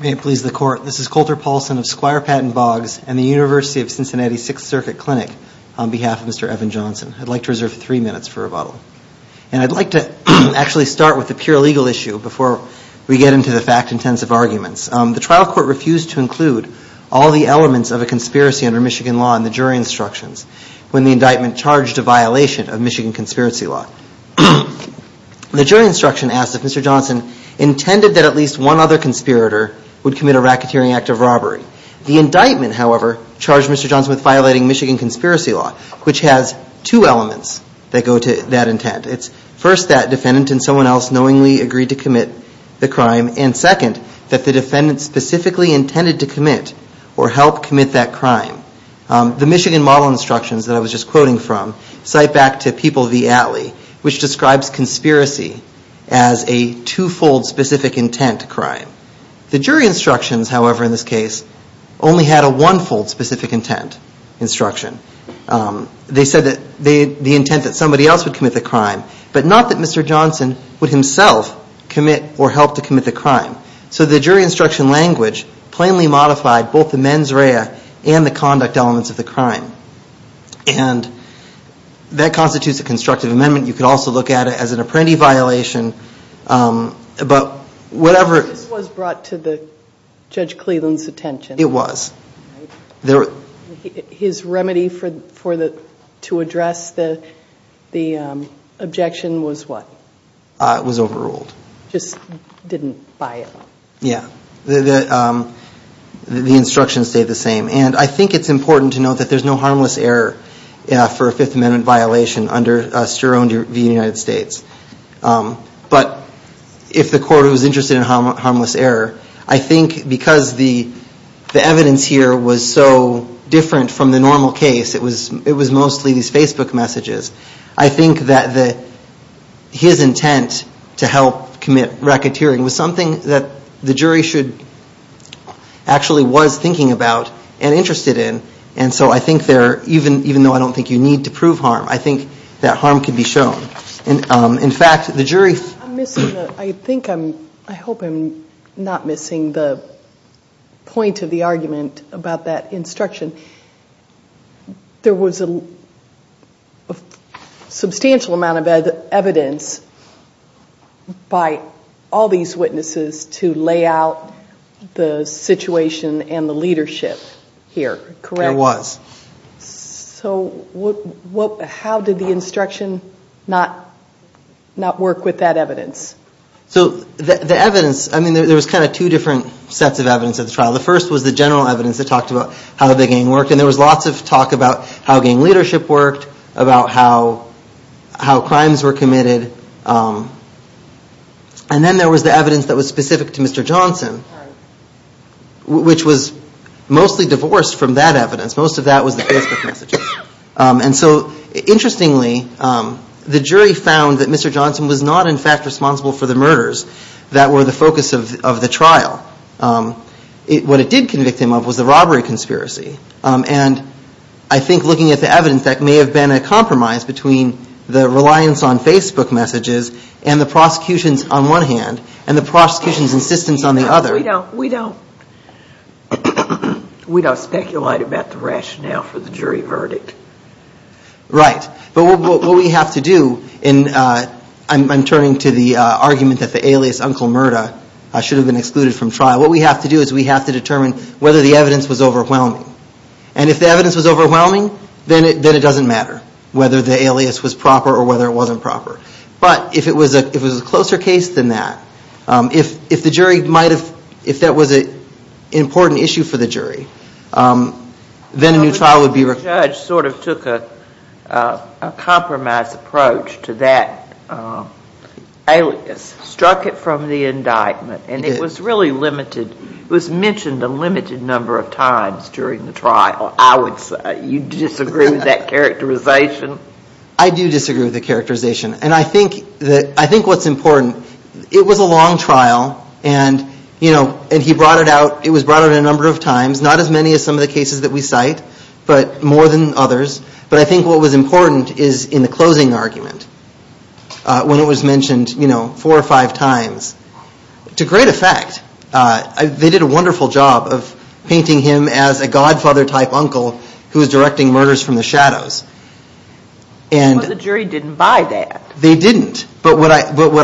May it please the court, this is Coulter Paulson of Squire Patton Boggs and the University of Cincinnati Sixth Circuit Clinic, on behalf of Mr. Evan Johnson. I'd like to reserve three minutes for rebuttal. And I'd like to actually start with the pure legal issue before we get into the fact-intensive arguments. The trial court refused to include all the elements of a conspiracy under Michigan law in the jury instructions when the indictment charged a violation of Michigan conspiracy law. The jury instruction asked if Mr. Johnson intended that at least one other conspirator would commit a racketeering act of robbery. The Michigan conspiracy law, which has two elements that go to that intent. It's first that defendant and someone else knowingly agreed to commit the crime. And second, that the defendant specifically intended to commit or help commit that crime. The Michigan model instructions that I was just quoting from cite back to People v. Atlee, which describes conspiracy as a two-fold specific intent crime. The jury instructions, however, in this case only had a one-fold specific intent instruction. They said that the intent that somebody else would commit the crime. But not that Mr. Johnson would himself commit or help to commit the crime. So the jury instruction language plainly modified both the mens rea and the conduct elements of the crime. And that constitutes a constructive amendment. You could also look at it as an apprentice violation. But whatever... His remedy to address the objection was what? It was overruled. Just didn't buy it? Yeah. The instructions stayed the same. And I think it's important to note that there's no harmless error for a Fifth Amendment violation under Sterling v. United States. But if the error was so different from the normal case, it was mostly these Facebook messages. I think that his intent to help commit racketeering was something that the jury should actually was thinking about and interested in. And so I think there, even though I don't think you need to prove harm, I think that harm could be shown. In fact, the jury... I think I'm, I hope I'm not missing the point of the argument about that instruction. There was a substantial amount of evidence by all these witnesses to lay out the situation and the leadership here, correct? There was. So how did the instruction not work with that evidence? So the evidence, I mean, there was kind of two different sets of evidence at the trial. The first was the general evidence that talked about how the gang worked. And there was lots of talk about how gang leadership worked, about how crimes were committed. And then there was the evidence that was specific to Mr. Johnson, which was mostly divorced from that evidence. Most of that was the Facebook messages. And so, interestingly, the jury found that Mr. Johnson was not, in fact, responsible for the murders that were the focus of the trial. What it did convict him of was the robbery conspiracy. And I think looking at the evidence, that may have been a compromise between the reliance on Facebook messages and the prosecution's, on one hand, and the prosecution's insistence on the other. We don't speculate about the rationale for the jury verdict. Right. But what we have to do, and I'm turning to the argument that the alias Uncle Murda should have been excluded from trial. What we have to do is we have to determine whether the evidence was overwhelming. And if the evidence was overwhelming, then it doesn't matter whether the alias was proper or whether it wasn't proper. But if it was a closer case than that, if the jury might have, if that was an important issue for the jury, then a new trial would be required. The judge sort of took a compromise approach to that alias, struck it from the indictment, and it was really limited. It was mentioned a limited number of times during the trial, I do disagree with the characterization. And I think that, I think what's important, it was a long trial and, you know, and he brought it out, it was brought out a number of times, not as many as some of the cases that we cite, but more than others. But I think what was important is in the closing argument, when it was mentioned, you know, four or five times, to great effect. They did a wonderful job of painting him as a godfather type uncle who was directing murders from the shadows. But the jury didn't buy that. They didn't. But what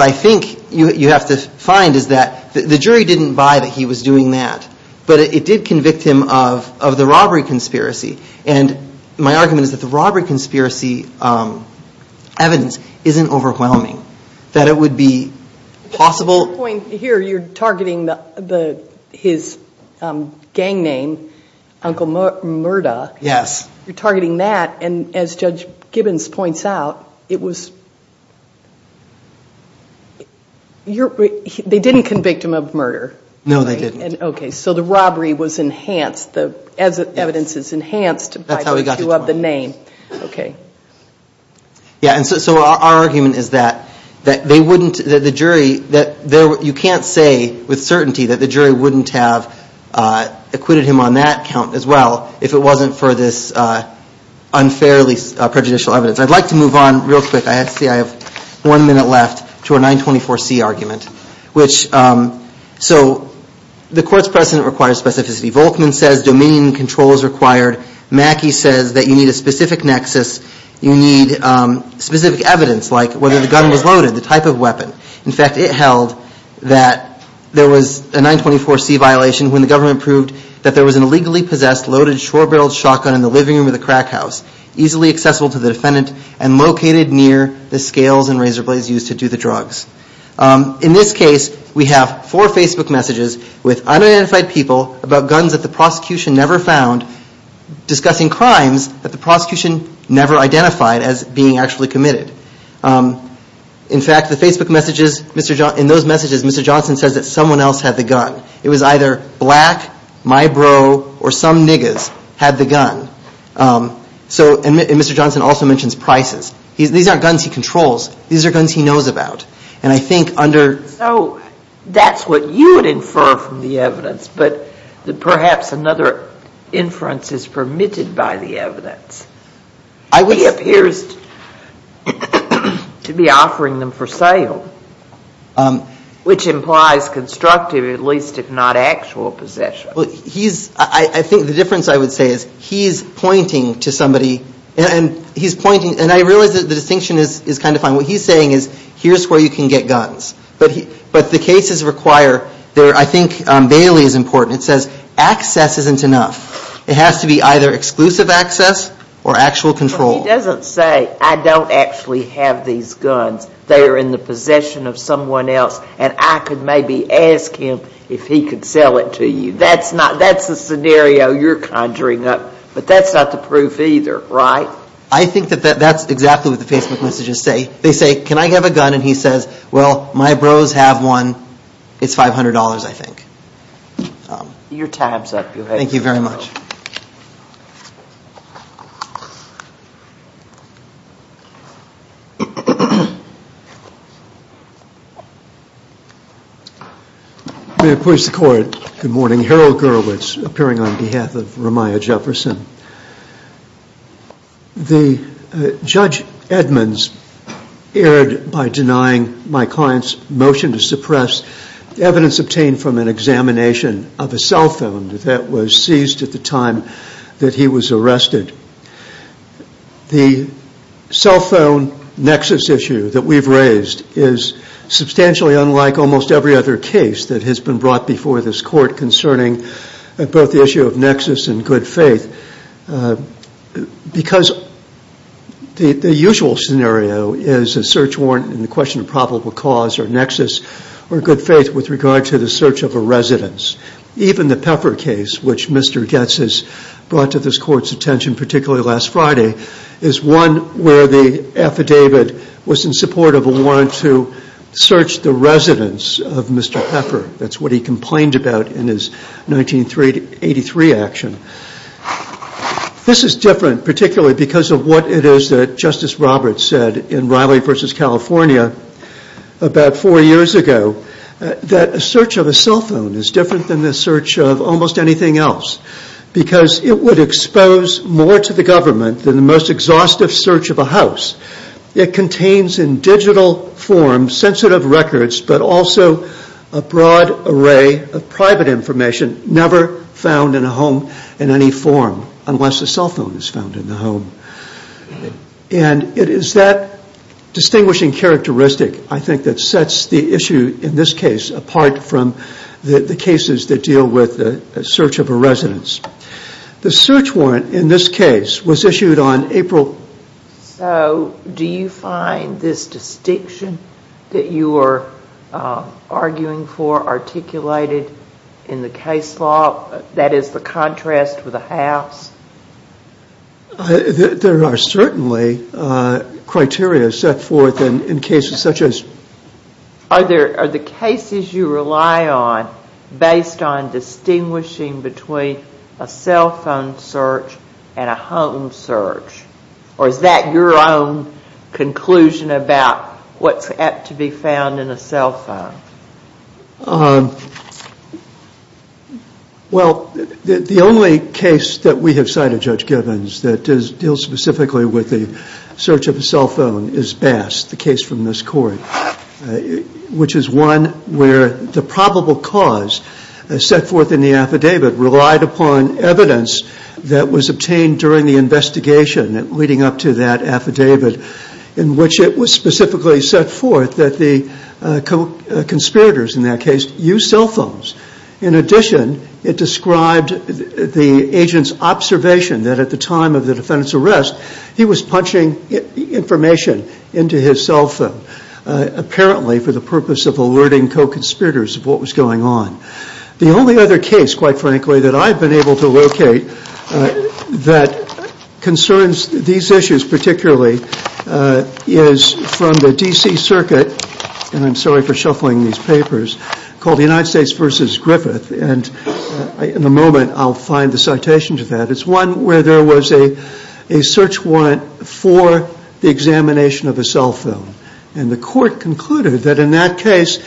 I think you have to find is that the jury didn't buy that he was doing that. But it did convict him of the robbery conspiracy. And my argument is that the robbery conspiracy evidence isn't overwhelming, that it would be possible. At this point here, you're targeting his gang name, Uncle Murda. Yes. You're targeting that, and as Judge Gibbons points out, it was, they didn't convict him of murder. No, they didn't. Okay, so the robbery was enhanced, the evidence is enhanced by the issue of the name. That's how we got to 20. Okay. Yeah, and so our argument is that they wouldn't, that the jury, you can't say with certainty that the jury wouldn't have acquitted him on that count as well if it wasn't for this unfairly prejudicial evidence. I'd like to move on real quick. I see I have one minute left to a 924C argument. Which, so the court's precedent requires specificity. Volkman says dominion and control is required. Mackey says that you need a specific nexus, you need specific evidence, like whether the gun was loaded, the type of weapon. In fact, it held that there was a 924C violation when the government proved that there was an illegally possessed loaded short-barreled shotgun in the living room of the crack house, easily accessible to the defendant, and located near the scales and razor blades used to do the drugs. In this case, we have four Facebook messages with unidentified people about guns that the discussing crimes that the prosecution never identified as being actually committed. In fact, the Facebook messages, in those messages, Mr. Johnson says that someone else had the gun. It was either black, my bro, or some niggas had the gun. So, and Mr. Johnson also mentions prices. These aren't guns he controls, these are guns he knows about. And I think under... So, that's what you would infer from the evidence, but perhaps another inference is permitted by the evidence. He appears to be offering them for sale, which implies constructive at least, if not actual possession. Well, he's, I think the difference I would say is he's pointing to somebody, and he's pointing, and I realize that the distinction is kind of fine. What he's saying is, here's where you can get guns. But the cases require, I think Bailey is important, it says access isn't enough. It has to be either exclusive access or actual control. But he doesn't say, I don't actually have these guns. They are in the possession of someone else, and I could maybe ask him if he could sell it to you. That's not, that's the scenario you're conjuring up, but that's not the proof either, right? So, I think that that's exactly what the Facebook messages say. They say, can I have a gun? And he says, well, my bros have one. It's $500, I think. Your time's up. Thank you very much. May it please the Court, good morning. Harold Gurowitz, appearing on behalf of Ramiah Jefferson. The Judge Edmonds erred by denying my client's motion to suppress evidence obtained from an examination of a cell phone that was seized at the time that he was arrested. The cell phone nexus issue that we've raised is substantially unlike almost every other case that has been brought before this Court concerning both the issue of nexus and good faith, because the usual scenario is a search warrant and the question of probable cause or nexus or good faith with regard to the search of a residence. Even the Pepper case, which Mr. Goetz has brought to this Court's attention, particularly last Friday, is one where the affidavit was in support of a warrant to search the residence of Mr. Pepper. That's what he complained about in his 1983 action. This is different, particularly because of what it is that Justice Roberts said in Riley v. California about four years ago, that a search of a cell phone is different than the search of almost anything else, because it would expose more to the government than the most exhaustive search of a house. It contains in digital form sensitive records, but also a broad array of private information never found in a home in any form, unless a cell phone is found in the home. And it is that distinguishing characteristic, I think, that sets the issue in this case apart from the cases that deal with the search of a residence. The search warrant in this case was issued on April... So, do you find this distinction that you are arguing for articulated in the case law, that is the contrast with a house? There are certainly criteria set forth in cases such as... Are the cases you rely on based on distinguishing between a cell phone search and a home search? Or is that your own conclusion about what's apt to be found in a cell phone? Well, the only case that we have cited, Judge Gibbons, that deals specifically with the search of a cell phone is Bass, the case from this court, which is one where the probable cause set forth in the affidavit relied upon evidence that was obtained during the investigation leading up to that affidavit, in which it was specifically set forth that the conspirators in that case used cell phones. In addition, it described the agent's observation that at the time of the defendant's arrest, he was punching information into his cell phone, apparently for the purpose of alerting co-conspirators of what was going on. The only other case, quite frankly, that I've been able to locate that concerns these issues particularly is from the D.C. Circuit, and I'm sorry for shuffling these papers, called the United States v. Griffith, and in a moment I'll find the citation to that. It's one where there was a search warrant for the examination of a cell phone, and the court concluded that in that case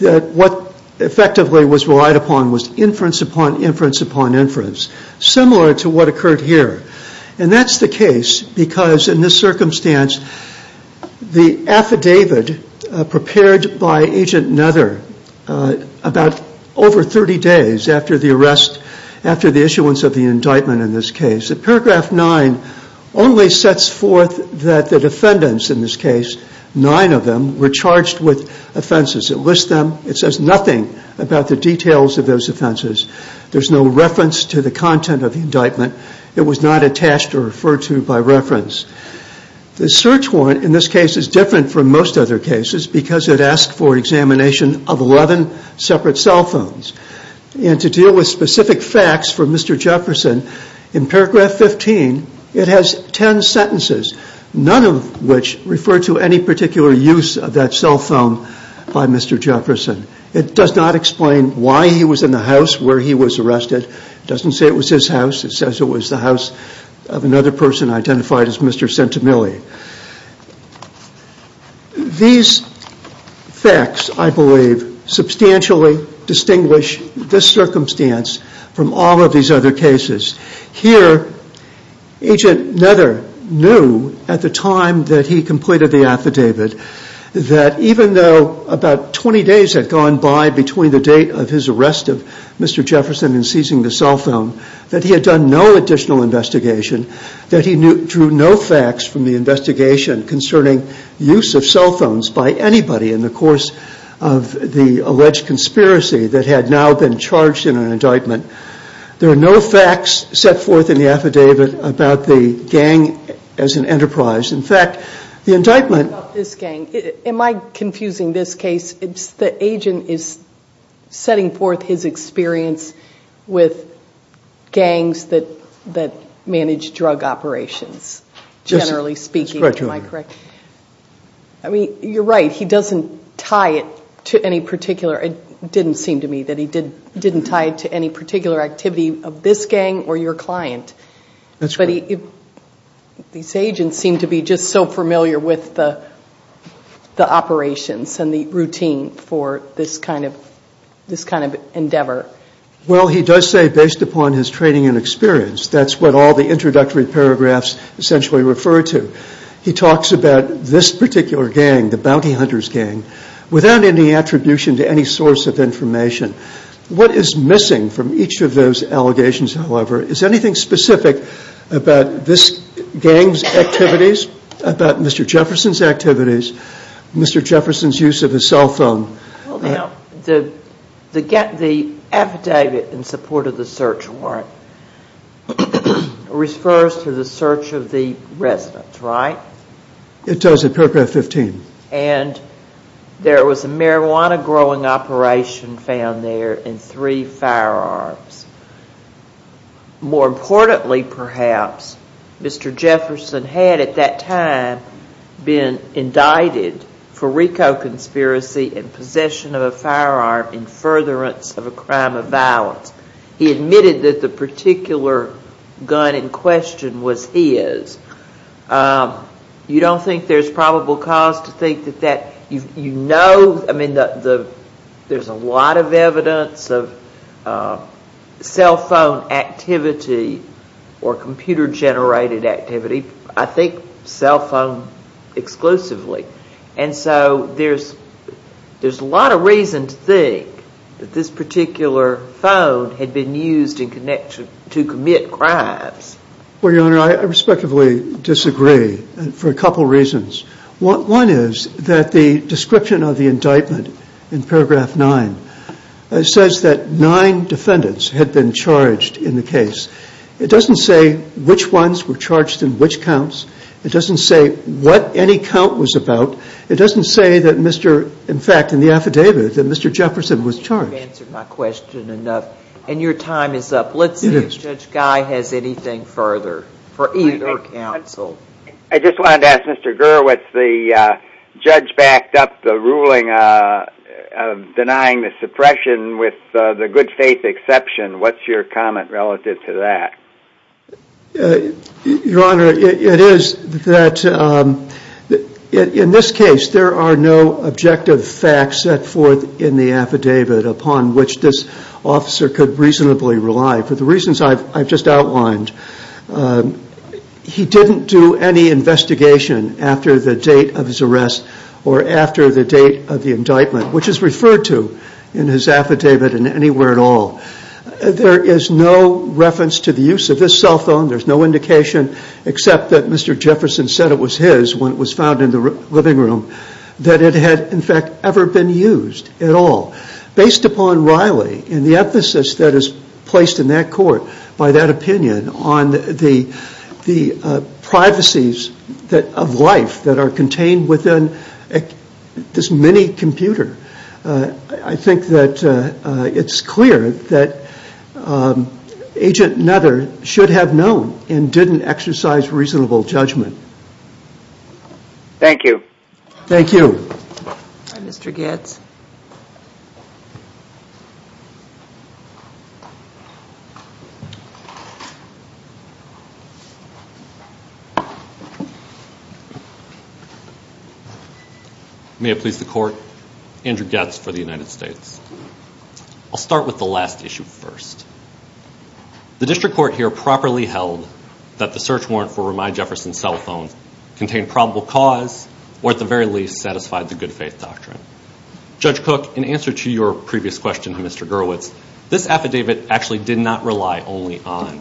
what effectively was relied upon was inference upon inference upon inference, similar to what occurred here. And that's the case because in this circumstance, the affidavit prepared by Agent Nether about over 30 days after the arrest, after the issuance of the indictment in this case, paragraph 9 only sets forth that the defendants in this case, nine of them, were charged with offenses. It lists them. It says nothing about the details of those offenses. There's no reference to the content of the indictment. It was not attached or referred to by reference. The search warrant in this case is different from most other cases because it asks for examination of 11 separate cell phones. And to deal with specific facts for Mr. Jefferson, in paragraph 15, it has 10 sentences, none of which refer to any particular use of that cell phone by Mr. Jefferson. It does not explain why he was in the house where he was arrested. It doesn't say it was his house. It says it was the house of another person identified as Mr. Centimilli. These facts, I believe, substantially distinguish this circumstance from all of these other cases. Here, Agent Nether knew at the time that he completed the affidavit that even though about 20 days had gone by between the date of his arrest of Mr. Jefferson and seizing the cell phone, that he had done no additional investigation, that he drew no facts from the investigation concerning use of cell phones by anybody in the course of the alleged conspiracy that had now been charged in an indictment. There are no facts set forth in the affidavit about the gang as an enterprise. In fact, the indictment... About this gang, am I confusing this case? The agent is setting forth his experience with gangs that manage drug operations, generally speaking. You're right. He doesn't tie it to any particular... It didn't seem to me that he didn't tie it to any particular activity of this gang or your client. But these agents seem to be just so familiar with the operations and the routine for this kind of endeavor. Well, he does say based upon his training and experience. That's what all the introductory paragraphs essentially refer to. He talks about this particular gang, the Bounty Hunters gang, without any attribution to any source of information. What is missing from each of those allegations, however? Is anything specific about this gang's activities? About Mr. Jefferson's activities? Mr. Jefferson's use of his cell phone? The affidavit in support of the search warrant refers to the search of the residence, right? It does in paragraph 15. And there was a marijuana growing operation found there in three firearms. More importantly, perhaps, Mr. Jefferson had at that time been indicted for RICO conspiracy and possession of a firearm in furtherance of a crime of violence. He admitted that the particular gun in question was his. You don't think there's probable cause to think that that... I mean, there's a lot of evidence of cell phone activity or computer-generated activity. I think cell phone exclusively. And so there's a lot of reason to think that this particular phone had been used to commit crimes. Well, Your Honor, I respectively disagree for a couple reasons. One is that the description of the indictment in paragraph 9 says that nine defendants had been charged in the case. It doesn't say which ones were charged in which counts. It doesn't say what any count was about. It doesn't say that, in fact, in the affidavit that Mr. Jefferson was charged. You've answered my question enough, and your time is up. Let's see if Judge Guy has anything further for either counsel. I just wanted to ask Mr. Gurwitz, the judge backed up the ruling of denying the suppression with the good faith exception. What's your comment relative to that? Your Honor, it is that in this case there are no objective facts set forth in the affidavit upon which this officer could reasonably rely. For the reasons I've just outlined, he didn't do any investigation after the date of his arrest or after the date of the indictment, which is referred to in his affidavit in anywhere at all. There is no reference to the use of this cell phone. There's no indication except that Mr. Jefferson said it was his when it was found in the living room that it had, in fact, ever been used at all. Based upon Riley and the emphasis that is placed in that court by that opinion on the privacies of life that are contained within this mini-computer, I think that it's clear that Agent Nutter should have known and didn't exercise reasonable judgment. Thank you. Thank you. Mr. Goetz. May it please the Court, Andrew Goetz for the United States. I'll start with the last issue first. The district court here properly held that the search warrant for Ramai Jefferson's cell phone contained probable cause or at the very least satisfied the good faith doctrine. Judge Cook, in answer to your previous question to Mr. Gurwitz, this affidavit actually did not rely only on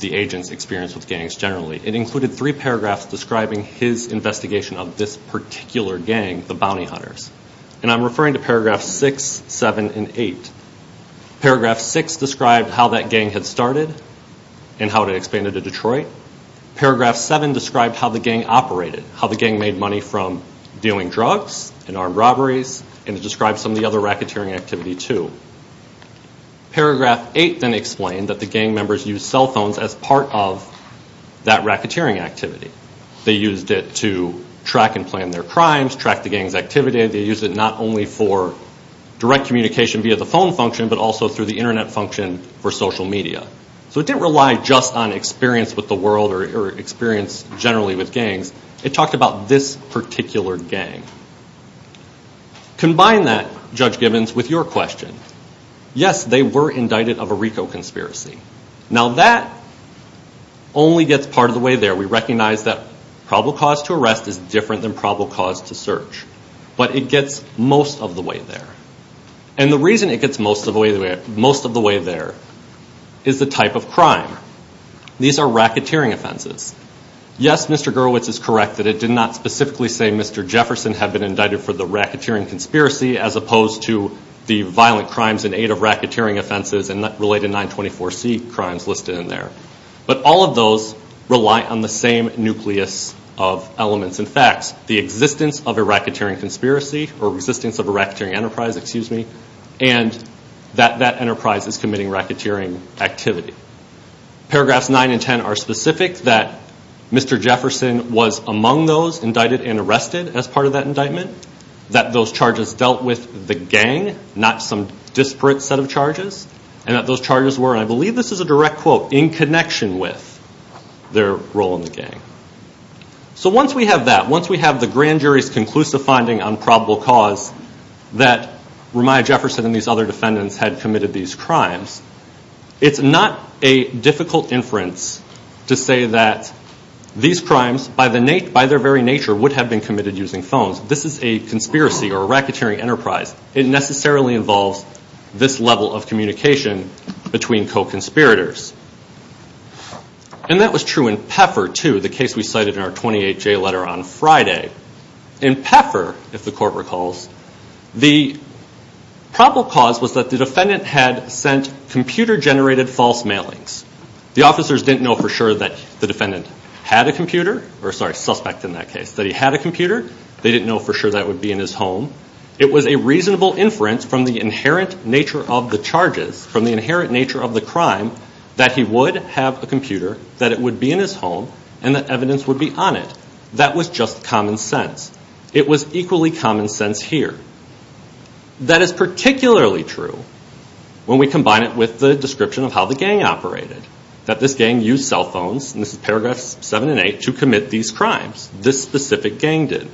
the agent's experience with gangs generally. It included three paragraphs describing his investigation of this particular gang, the Bounty Hunters, and I'm referring to paragraphs 6, 7, and 8. Paragraph 6 described how that gang had started and how it expanded to Detroit. Paragraph 7 described how the gang operated, how the gang made money from dealing drugs and armed robberies, and it described some of the other racketeering activity too. Paragraph 8 then explained that the gang members used cell phones as part of that racketeering activity. They used it to track and plan their crimes, track the gang's activity. They used it not only for direct communication via the phone function but also through the Internet function for social media. So it didn't rely just on experience with the world or experience generally with gangs. It talked about this particular gang. Combine that, Judge Gibbons, with your question. Yes, they were indicted of a RICO conspiracy. Now that only gets part of the way there. We recognize that probable cause to arrest is different than probable cause to search, but it gets most of the way there. And the reason it gets most of the way there is the type of crime. These are racketeering offenses. Yes, Mr. Gerowitz is correct that it did not specifically say Mr. Jefferson had been indicted for the racketeering conspiracy as opposed to the violent crimes in aid of racketeering offenses and related 924C crimes listed in there. But all of those rely on the same nucleus of elements and facts, the existence of a racketeering conspiracy or existence of a racketeering enterprise, excuse me, and that that enterprise is committing racketeering activity. Paragraphs 9 and 10 are specific that Mr. Jefferson was among those indicted and arrested as part of that indictment, that those charges dealt with the gang, not some disparate set of charges, and that those charges were, and I believe this is a direct quote, in connection with their role in the gang. So once we have that, once we have the grand jury's conclusive finding on probable cause that Ramiah Jefferson and these other defendants had committed these crimes, it's not a difficult inference to say that these crimes by their very nature would have been committed using phones. This is a conspiracy or a racketeering enterprise. It necessarily involves this level of communication between co-conspirators. And that was true in Pfeffer, too, the case we cited in our 28-J letter on Friday. In Pfeffer, if the court recalls, the probable cause was that the defendant had sent computer-generated false mailings. The officers didn't know for sure that the defendant had a computer, or sorry, suspect in that case, that he had a computer. They didn't know for sure that would be in his home. It was a reasonable inference from the inherent nature of the charges, from the inherent nature of the crime, that he would have a computer, that it would be in his home, and that evidence would be on it. That was just common sense. It was equally common sense here. That is particularly true when we combine it with the description of how the gang operated, that this gang used cell phones, and this is paragraphs 7 and 8, to commit these crimes. This specific gang did.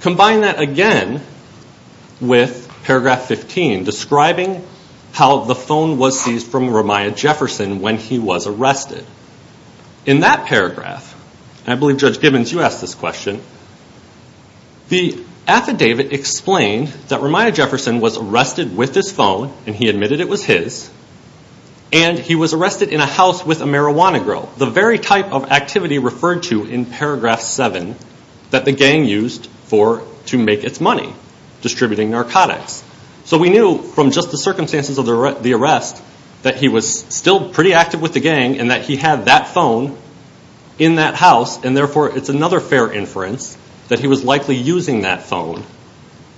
Combine that again with paragraph 15, describing how the phone was seized from Ramiah Jefferson when he was arrested. In that paragraph, and I believe Judge Gibbons, you asked this question, the affidavit explained that Ramiah Jefferson was arrested with his phone, and he admitted it was his, and he was arrested in a house with a marijuana girl. The very type of activity referred to in paragraph 7 that the gang used to make its money, distributing narcotics. We knew from just the circumstances of the arrest that he was still pretty active with the gang and that he had that phone in that house, and therefore it's another fair inference that he was likely using that phone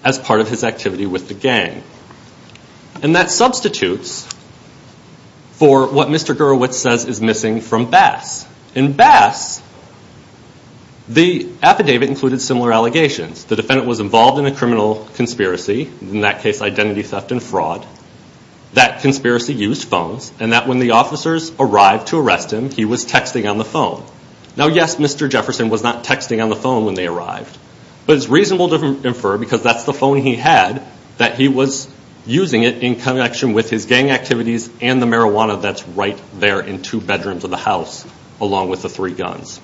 as part of his activity with the gang. And that substitutes for what Mr. Gerowitz says is missing from Bass. In Bass, the affidavit included similar allegations. The defendant was involved in a criminal conspiracy, in that case identity theft and fraud. That conspiracy used phones, and that when the officers arrived to arrest him, he was texting on the phone. Now, yes, Mr. Jefferson was not texting on the phone when they arrived, but it's reasonable to infer, because that's the phone he had, that he was using it in connection with his gang activities and the marijuana that's right there in two bedrooms of the house, along with the three guns.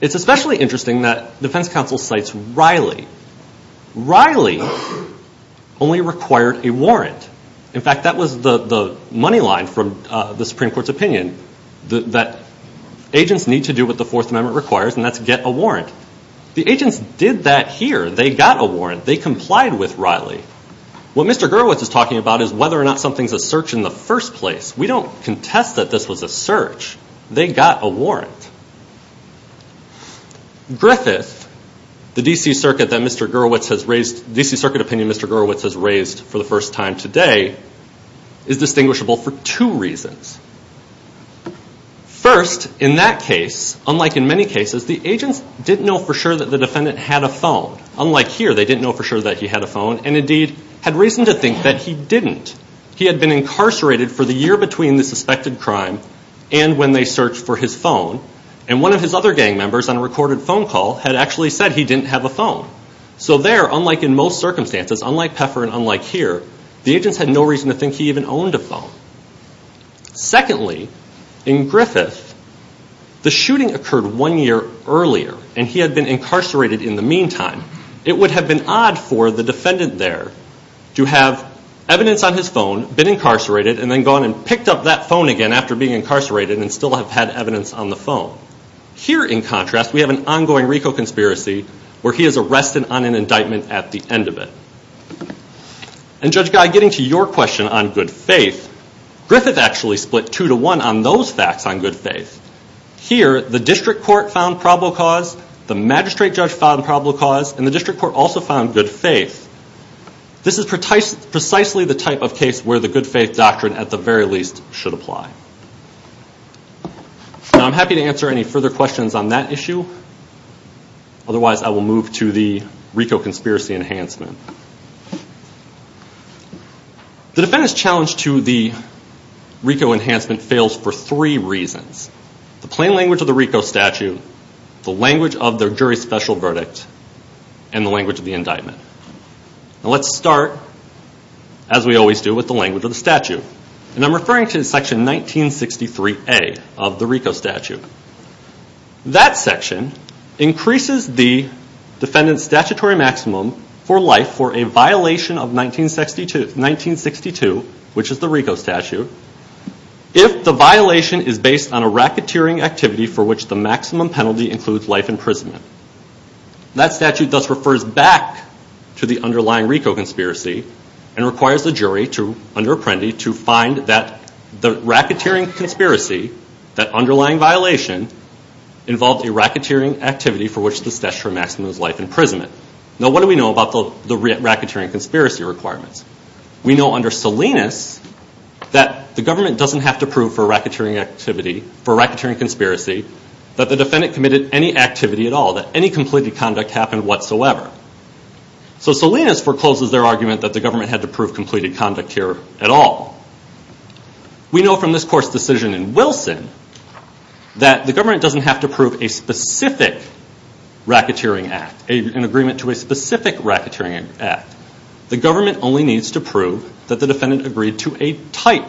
It's especially interesting that defense counsel cites Riley. Riley only required a warrant. In fact, that was the money line from the Supreme Court's opinion, that agents need to do what the Fourth Amendment requires, and that's get a warrant. The agents did that here. They got a warrant. They complied with Riley. What Mr. Gerowitz is talking about is whether or not something's a search in the first place. We don't contest that this was a search. They got a warrant. Griffith, the D.C. Circuit opinion Mr. Gerowitz has raised for the first time today, is distinguishable for two reasons. First, in that case, unlike in many cases, the agents didn't know for sure that the defendant had a phone. Unlike here, they didn't know for sure that he had a phone, and indeed had reason to think that he didn't. He had been incarcerated for the year between the suspected crime and when they searched for his phone, and one of his other gang members on a recorded phone call had actually said he didn't have a phone. So there, unlike in most circumstances, unlike Pfeffer and unlike here, the agents had no reason to think he even owned a phone. Secondly, in Griffith, the shooting occurred one year earlier, and he had been incarcerated in the meantime. It would have been odd for the defendant there to have evidence on his phone, been incarcerated, and then gone and picked up that phone again after being incarcerated and still have had evidence on the phone. Here, in contrast, we have an ongoing RICO conspiracy where he is arrested on an indictment at the end of it. And Judge Guy, getting to your question on good faith, Griffith actually split two to one on those facts on good faith. Here, the district court found probable cause, the magistrate judge found probable cause, and the district court also found good faith. This is precisely the type of case where the good faith doctrine, at the very least, should apply. I'm happy to answer any further questions on that issue. Otherwise, I will move to the RICO conspiracy enhancement. The defendant's challenge to the RICO enhancement fails for three reasons. The plain language of the RICO statute, the language of the jury's special verdict, and the language of the indictment. Let's start, as we always do, with the language of the statute. I'm referring to section 1963A of the RICO statute. That section increases the defendant's statutory maximum for life for a violation of 1962, which is the RICO statute, if the violation is based on a racketeering activity for which the maximum penalty includes life imprisonment. That statute thus refers back to the underlying RICO conspiracy and requires the jury, under Apprendi, to find the racketeering conspiracy, that underlying violation involved a racketeering activity for which the statutory maximum is life imprisonment. Now, what do we know about the racketeering conspiracy requirements? We know under Salinas that the government doesn't have to prove for a racketeering activity, for a racketeering conspiracy, that the defendant committed any activity at all, that any completed conduct happened whatsoever. So Salinas forecloses their argument that the government had to prove completed conduct here at all. We know from this court's decision in Wilson that the government doesn't have to prove a specific racketeering act, an agreement to a specific racketeering act. The government only needs to prove that the defendant agreed to a type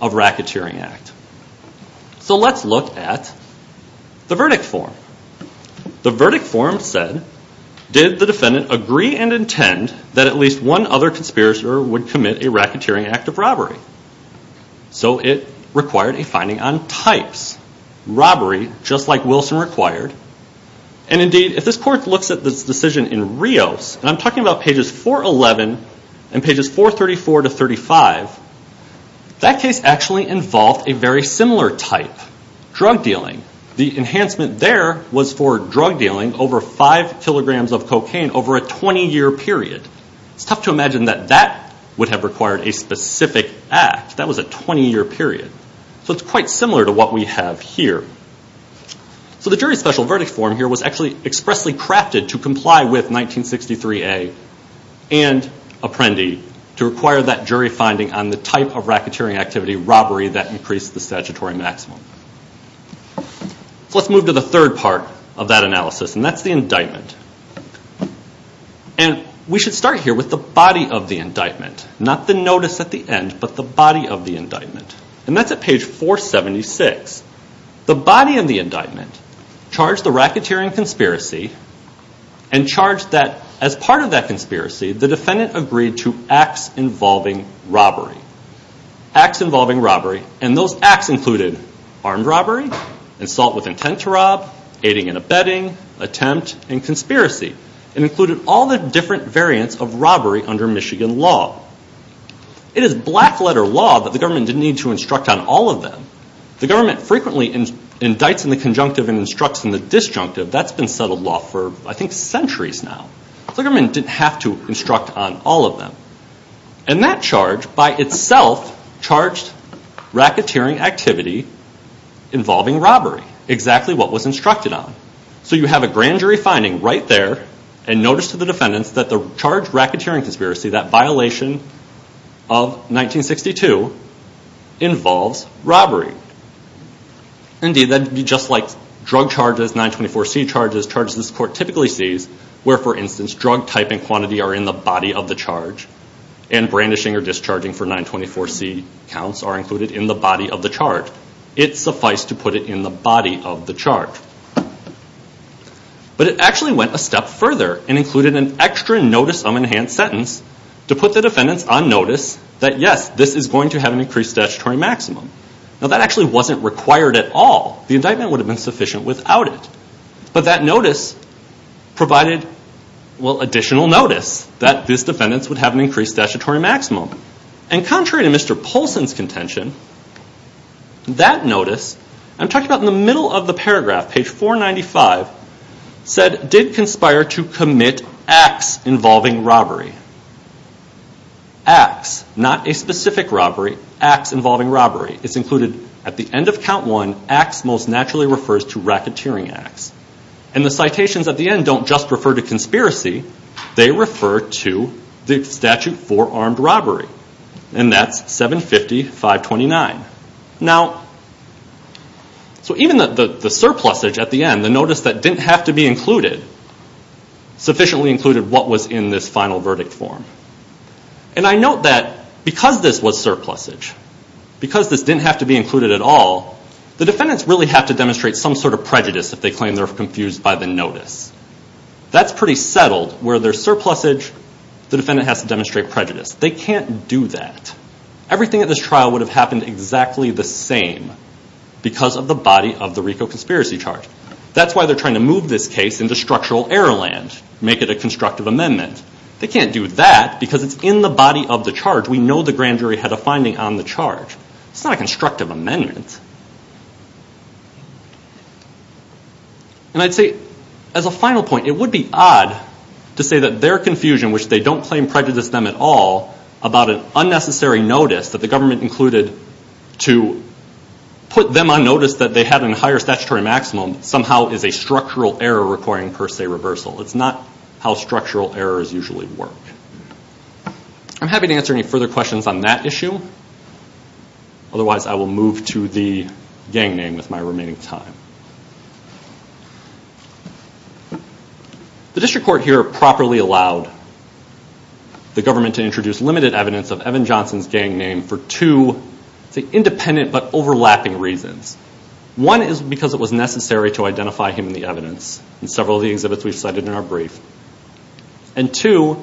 of racketeering act. So let's look at the verdict form. The verdict form said, did the defendant agree and intend that at least one other conspirator would commit a racketeering act of robbery? So it required a finding on types. Robbery, just like Wilson required. And indeed, if this court looks at this decision in Rios, and I'm talking about pages 411 and pages 434 to 35, that case actually involved a very similar type, drug dealing. The enhancement there was for drug dealing, over 5 kilograms of cocaine over a 20-year period. It's tough to imagine that that would have required a specific act. That was a 20-year period. So it's quite similar to what we have here. So the jury's special verdict form here was actually expressly crafted to comply with 1963A and Apprendi to require that jury finding on the type of racketeering activity, robbery, that increased the statutory maximum. Let's move to the third part of that analysis, and that's the indictment. And we should start here with the body of the indictment, not the notice at the end, but the body of the indictment. And that's at page 476. The body of the indictment charged the racketeering conspiracy and charged that as part of that conspiracy, the defendant agreed to acts involving robbery. Acts involving robbery, and those acts included armed robbery, assault with intent to rob, aiding and abetting, attempt, and conspiracy, and included all the different variants of robbery under Michigan law. It is black-letter law that the government didn't need to instruct on all of them. The government frequently indicts in the conjunctive and instructs in the disjunctive. That's been settled law for, I think, centuries now. The government didn't have to instruct on all of them. And that charge by itself charged racketeering activity involving robbery, exactly what was instructed on. So you have a grand jury finding right there, and notice to the defendants that the charge racketeering conspiracy, that violation of 1962, involves robbery. Indeed, that would be just like drug charges, 924C charges, charges this court typically sees, where, for instance, drug type and quantity are in the body of the charge, and brandishing or discharging for 924C counts are included in the body of the charge. It sufficed to put it in the body of the charge. But it actually went a step further and included an extra notice of enhanced sentence to put the defendants on notice that, yes, this is going to have an increased statutory maximum. Now, that actually wasn't required at all. The indictment would have been sufficient without it. But that notice provided, well, additional notice that these defendants would have an increased statutory maximum. And contrary to Mr. Polson's contention, that notice, I'm talking about in the middle of the paragraph, page 495, said, did conspire to commit acts involving robbery. Acts, not a specific robbery, acts involving robbery. It's included at the end of count one, acts most naturally refers to racketeering acts. And the citations at the end don't just refer to conspiracy, they refer to the statute for armed robbery. And that's 750-529. Now, so even the surplusage at the end, the notice that didn't have to be included, sufficiently included what was in this final verdict form. And I note that because this was surplusage, because this didn't have to be included at all, the defendants really have to demonstrate some sort of prejudice if they claim they're confused by the notice. That's pretty settled, where there's surplusage, the defendant has to demonstrate prejudice. They can't do that. Everything at this trial would have happened exactly the same because of the body of the RICO conspiracy charge. That's why they're trying to move this case into structural error land, make it a constructive amendment. They can't do that because it's in the body of the charge. We know the grand jury had a finding on the charge. It's not a constructive amendment. And I'd say, as a final point, it would be odd to say that their confusion, which they don't claim prejudiced them at all, about an unnecessary notice that the government included to put them on notice that they had a higher statutory maximum, somehow is a structural error requiring per se reversal. It's not how structural errors usually work. I'm happy to answer any further questions on that issue. Otherwise, I will move to the gang name with my remaining time. The district court here properly allowed the government to introduce limited evidence of Evan Johnson's gang name for two independent but overlapping reasons. One is because it was necessary to identify him in the evidence in several of the exhibits we've cited in our brief. And two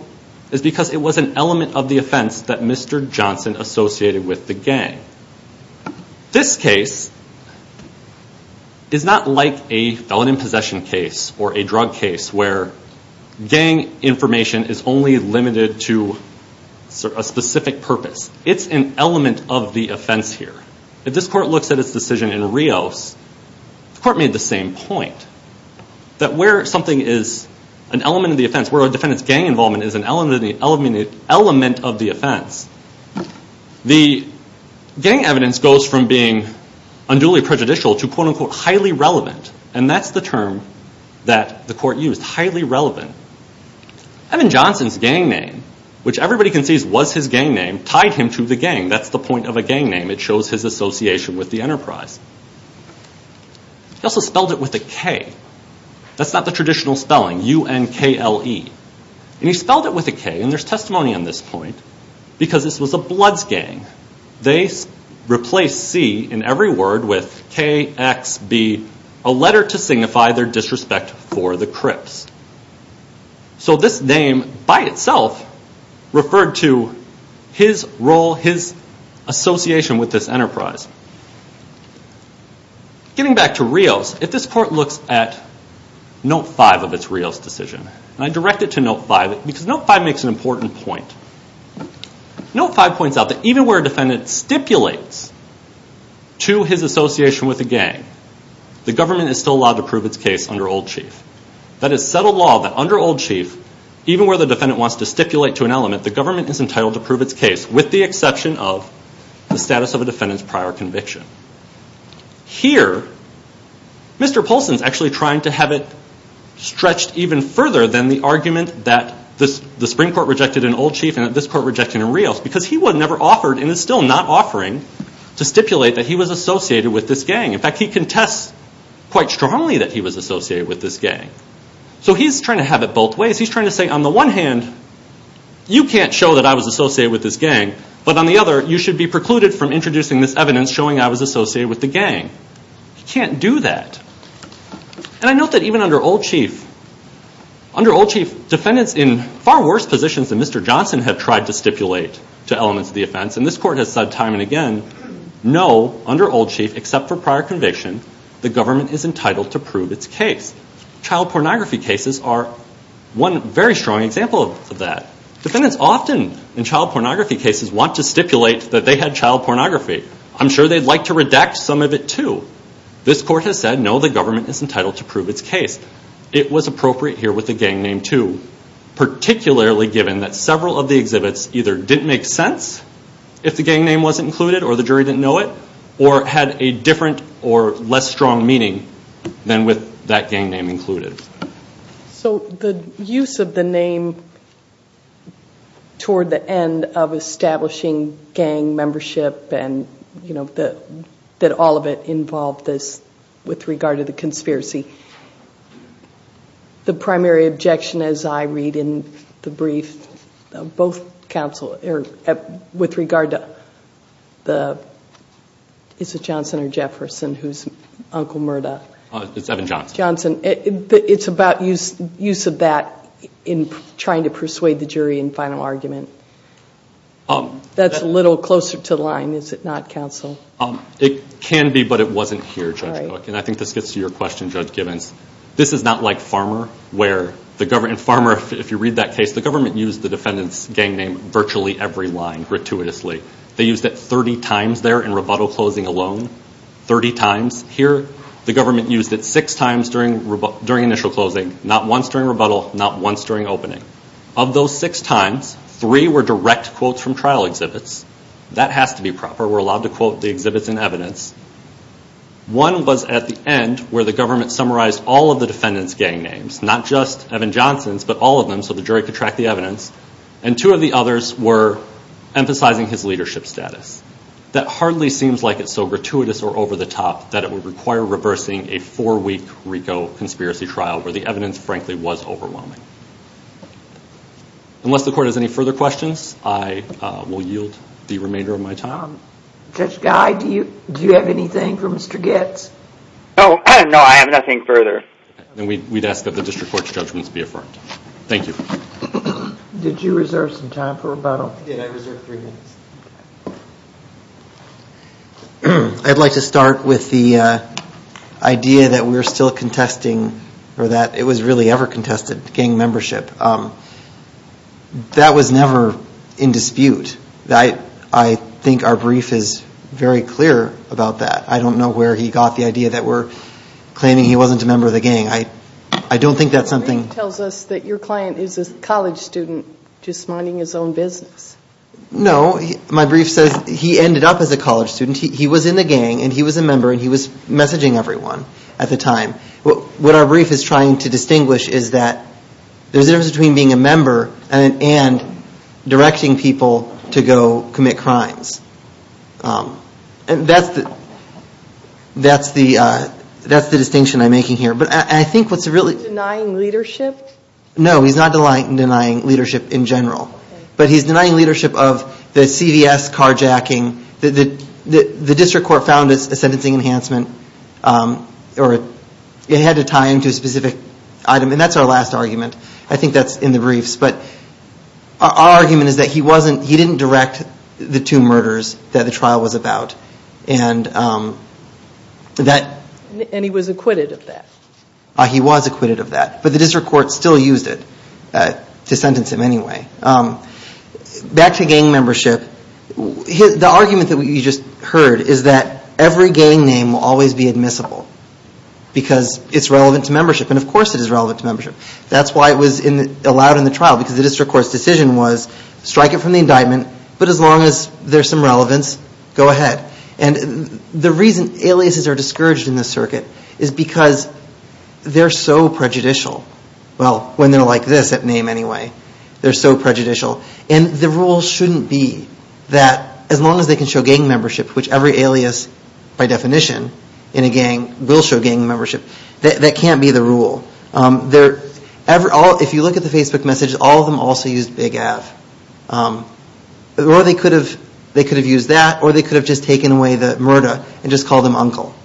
is because it was an element of the offense that Mr. Johnson associated with the gang. This case is not like a felon in possession case or a drug case where gang information is only limited to a specific purpose. It's an element of the offense here. If this court looks at its decision in Rios, the court made the same point, that where something is an element of the offense, where a defendant's gang involvement is an element of the offense, the gang evidence goes from being unduly prejudicial to quote-unquote highly relevant. And that's the term that the court used, highly relevant. Evan Johnson's gang name, which everybody concedes was his gang name, tied him to the gang. That's the point of a gang name. It shows his association with the enterprise. He also spelled it with a K. That's not the traditional spelling, U-N-K-L-E. And he spelled it with a K, and there's testimony on this point, because this was a Bloods gang. They replaced C in every word with K-X-B, a letter to signify their disrespect for the Crips. So this name by itself referred to his role, his association with this enterprise. Getting back to Rios, if this court looks at Note 5 of its Rios decision, and I direct it to Note 5 because Note 5 makes an important point. Note 5 points out that even where a defendant stipulates to his association with a gang, the government is still allowed to prove its case under Old Chief. That is settled law that under Old Chief, even where the defendant wants to stipulate to an element, the government is entitled to prove its case, with the exception of the status of a defendant's prior conviction. Here, Mr. Poulsen is actually trying to have it stretched even further than the argument that the Supreme Court rejected in Old Chief and that this court rejected in Rios, because he was never offered, and is still not offering, to stipulate that he was associated with this gang. In fact, he contests quite strongly that he was associated with this gang. So he's trying to have it both ways. He's trying to say, on the one hand, you can't show that I was associated with this gang, but on the other, you should be precluded from introducing this evidence showing I was associated with the gang. He can't do that. And I note that even under Old Chief, under Old Chief, defendants in far worse positions than Mr. Johnson have tried to stipulate to elements of the offense, and this court has said time and again, no, under Old Chief, except for prior conviction, the government is entitled to prove its case. Child pornography cases are one very strong example of that. Defendants often, in child pornography cases, want to stipulate that they had child pornography. I'm sure they'd like to redact some of it, too. This court has said, no, the government is entitled to prove its case. It was appropriate here with the gang name, too, particularly given that several of the exhibits either didn't make sense if the gang name wasn't included or the jury didn't know it, or had a different or less strong meaning than with that gang name included. So the use of the name toward the end of establishing gang membership and that all of it involved this with regard to the conspiracy, the primary objection, as I read in the brief, both counsel, with regard to the, is it Johnson or Jefferson, who's Uncle Murdaugh? It's Evan Johnson. It's about use of that in trying to persuade the jury in final argument. That's a little closer to the line, is it not, counsel? It can be, but it wasn't here, Judge Cook, and I think this gets to your question, Judge Gibbons. This is not like Farmer where the government, in Farmer, if you read that case, the government used the defendant's gang name virtually every line, gratuitously. They used it 30 times there in rebuttal closing alone, 30 times. Here the government used it six times during initial closing, not once during rebuttal, not once during opening. Of those six times, three were direct quotes from trial exhibits. That has to be proper. We're allowed to quote the exhibits in evidence. One was at the end where the government summarized all of the defendant's gang names, not just Evan Johnson's but all of them so the jury could track the evidence, and two of the others were emphasizing his leadership status. That hardly seems like it's so gratuitous or over the top that it would require reversing a four-week RICO conspiracy trial where the evidence, frankly, was overwhelming. Unless the court has any further questions, I will yield the remainder of my time. Judge Guy, do you have anything for Mr. Goetz? No, I have nothing further. Then we'd ask that the district court's judgments be affirmed. Thank you. Did you reserve some time for rebuttal? I did. I reserved three minutes. I'd like to start with the idea that we're still contesting or that it was really ever contested gang membership. That was never in dispute. I think our brief is very clear about that. I don't know where he got the idea that we're claiming he wasn't a member of the gang. I don't think that's something... Your brief tells us that your client is a college student just minding his own business. No, my brief says he ended up as a college student. He was in the gang, and he was a member, and he was messaging everyone at the time. What our brief is trying to distinguish is that there's a difference between being a member and directing people to go commit crimes. That's the distinction I'm making here. Is he denying leadership? No, he's not denying leadership in general. But he's denying leadership of the CVS carjacking. The district court found it's a sentencing enhancement. It had to tie into a specific item, and that's our last argument. I think that's in the briefs. Our argument is that he didn't direct the two murders. that the trial was about. And he was acquitted of that? He was acquitted of that, but the district court still used it to sentence him anyway. Back to gang membership, the argument that you just heard is that every gang name will always be admissible because it's relevant to membership, and of course it is relevant to membership. That's why it was allowed in the trial, because the district court's decision was strike it from the indictment, but as long as there's some relevance, go ahead. And the reason aliases are discouraged in this circuit is because they're so prejudicial. Well, when they're like this at name anyway, they're so prejudicial. And the rule shouldn't be that as long as they can show gang membership, which every alias by definition in a gang will show gang membership, that can't be the rule. If you look at the Facebook messages, all of them also used Big Av. Or they could have used that, or they could have just taken away the murder and just called him Uncle.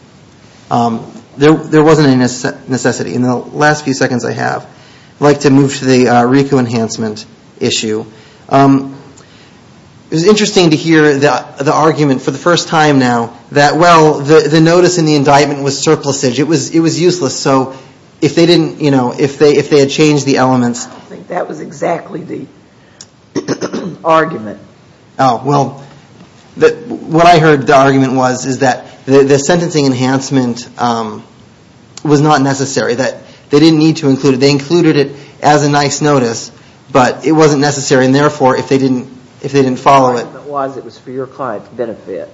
There wasn't a necessity. In the last few seconds I have, I'd like to move to the RICO enhancement issue. It was interesting to hear the argument for the first time now that, well, the notice in the indictment was surplusage. It was useless. So if they had changed the elements... What was exactly the argument? Well, what I heard the argument was is that the sentencing enhancement was not necessary. They didn't need to include it. They included it as a nice notice, but it wasn't necessary. And therefore, if they didn't follow it... The argument was it was for your client's benefit.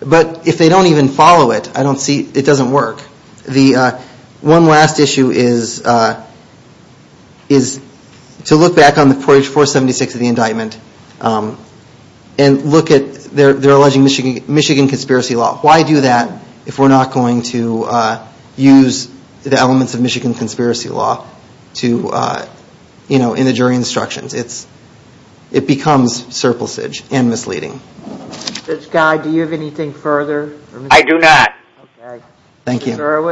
But if they don't even follow it, I don't see... it doesn't work. One last issue is to look back on page 476 of the indictment and look at their alleging Michigan Conspiracy Law. Why do that if we're not going to use the elements of Michigan Conspiracy Law in the jury instructions? It becomes surplusage and misleading. Judge Guy, do you have anything further? I do not. Thank you. I'd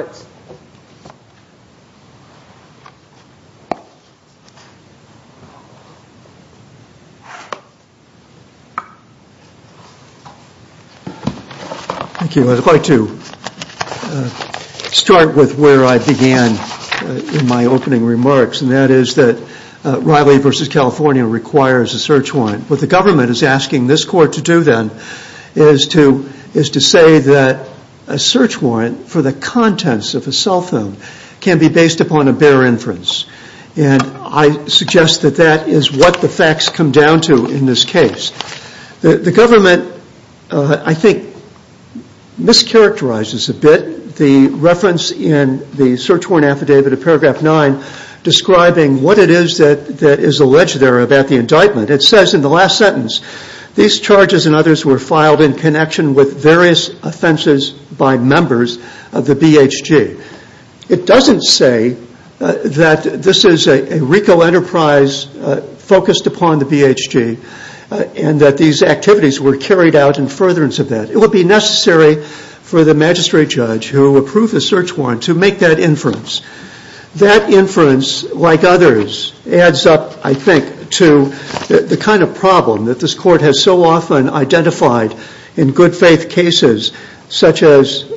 like to start with where I began in my opening remarks, and that is that Riley v. California requires a search warrant. What the government is asking this court to do then is to say that a search warrant for the contents of a cell phone can be based upon a bare inference. And I suggest that that is what the facts come down to in this case. The government, I think, mischaracterizes a bit the reference in the search warrant affidavit of paragraph 9 describing what it is that is alleged there about the indictment. It says in the last sentence, these charges and others were filed in connection with various offenses by members of the BHG. It doesn't say that this is a RICO enterprise focused upon the BHG and that these activities were carried out in furtherance of that. It would be necessary for the magistrate judge who approved the search warrant to make that inference. That inference, like others, adds up, I think, to the kind of problem that this court has so often identified in good faith cases such as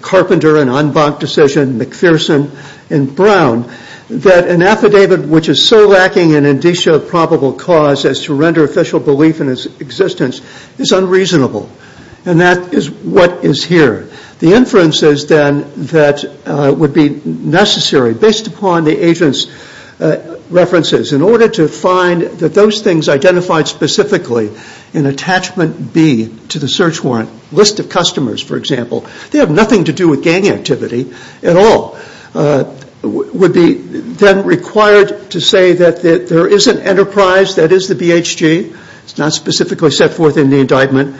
Carpenter and Anbank decision, McPherson and Brown, that an affidavit which is so lacking in indicia of probable cause as to render official belief in its existence is unreasonable. And that is what is here. The inference is then that would be necessary based upon the agent's references in order to find that those things identified specifically in attachment B to the search warrant. List of customers, for example. They have nothing to do with gang activity at all. Would be then required to say that there is an enterprise that is the BHG. It's not specifically set forth in the indictment.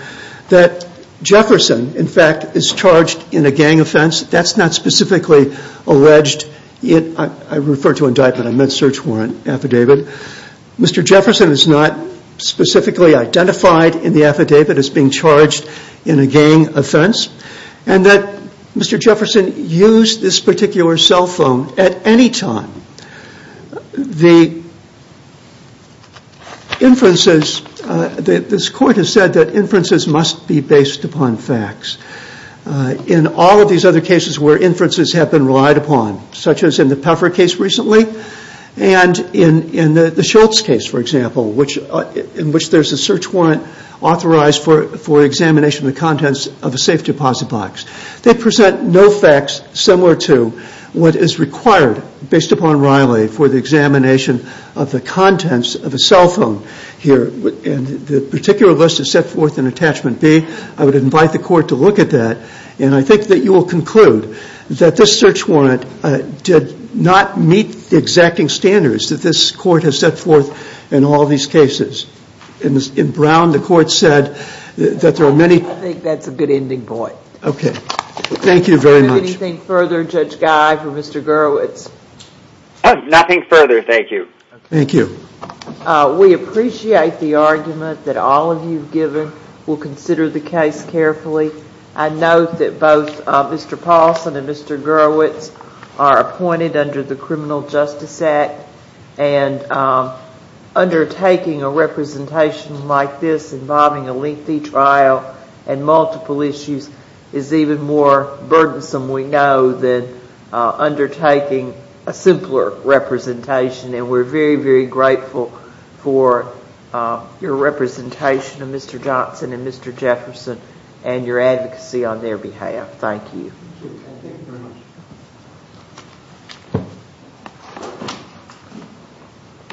That Jefferson, in fact, is charged in a gang offense. That's not specifically alleged. I refer to indictment. I meant search warrant affidavit. Mr. Jefferson is not specifically identified in the affidavit as being charged in a gang offense. And that Mr. Jefferson used this particular cell phone at any time. The inferences, this court has said that inferences must be based upon facts. In all of these other cases where inferences have been relied upon such as in the Puffer case recently and in the Schultz case, for example, in which there's a search warrant authorized for examination of the contents of a safe deposit box. They present no facts similar to what is required based upon Riley for the examination of the contents of a cell phone here. And the particular list is set forth in attachment B. I would invite the court to look at that. And I think that you will conclude that this search warrant did not meet the exacting standards that this court has set forth in all these cases. In Brown, the court said that there are many... I think that's a good ending point. Okay. Thank you very much. Is there anything further, Judge Guy, for Mr. Gerowitz? Nothing further, thank you. Thank you. We appreciate the argument that all of you have given. We'll consider the case carefully. I note that both Mr. Paulson and Mr. Gerowitz are appointed under the Criminal Justice Act. And undertaking a representation like this involving a lengthy trial and multiple issues is even more burdensome, we know, than undertaking a simpler representation. And we're very, very grateful for your representation of Mr. Johnson and Mr. Jefferson and your advocacy on their behalf. Thank you. Thank you very much.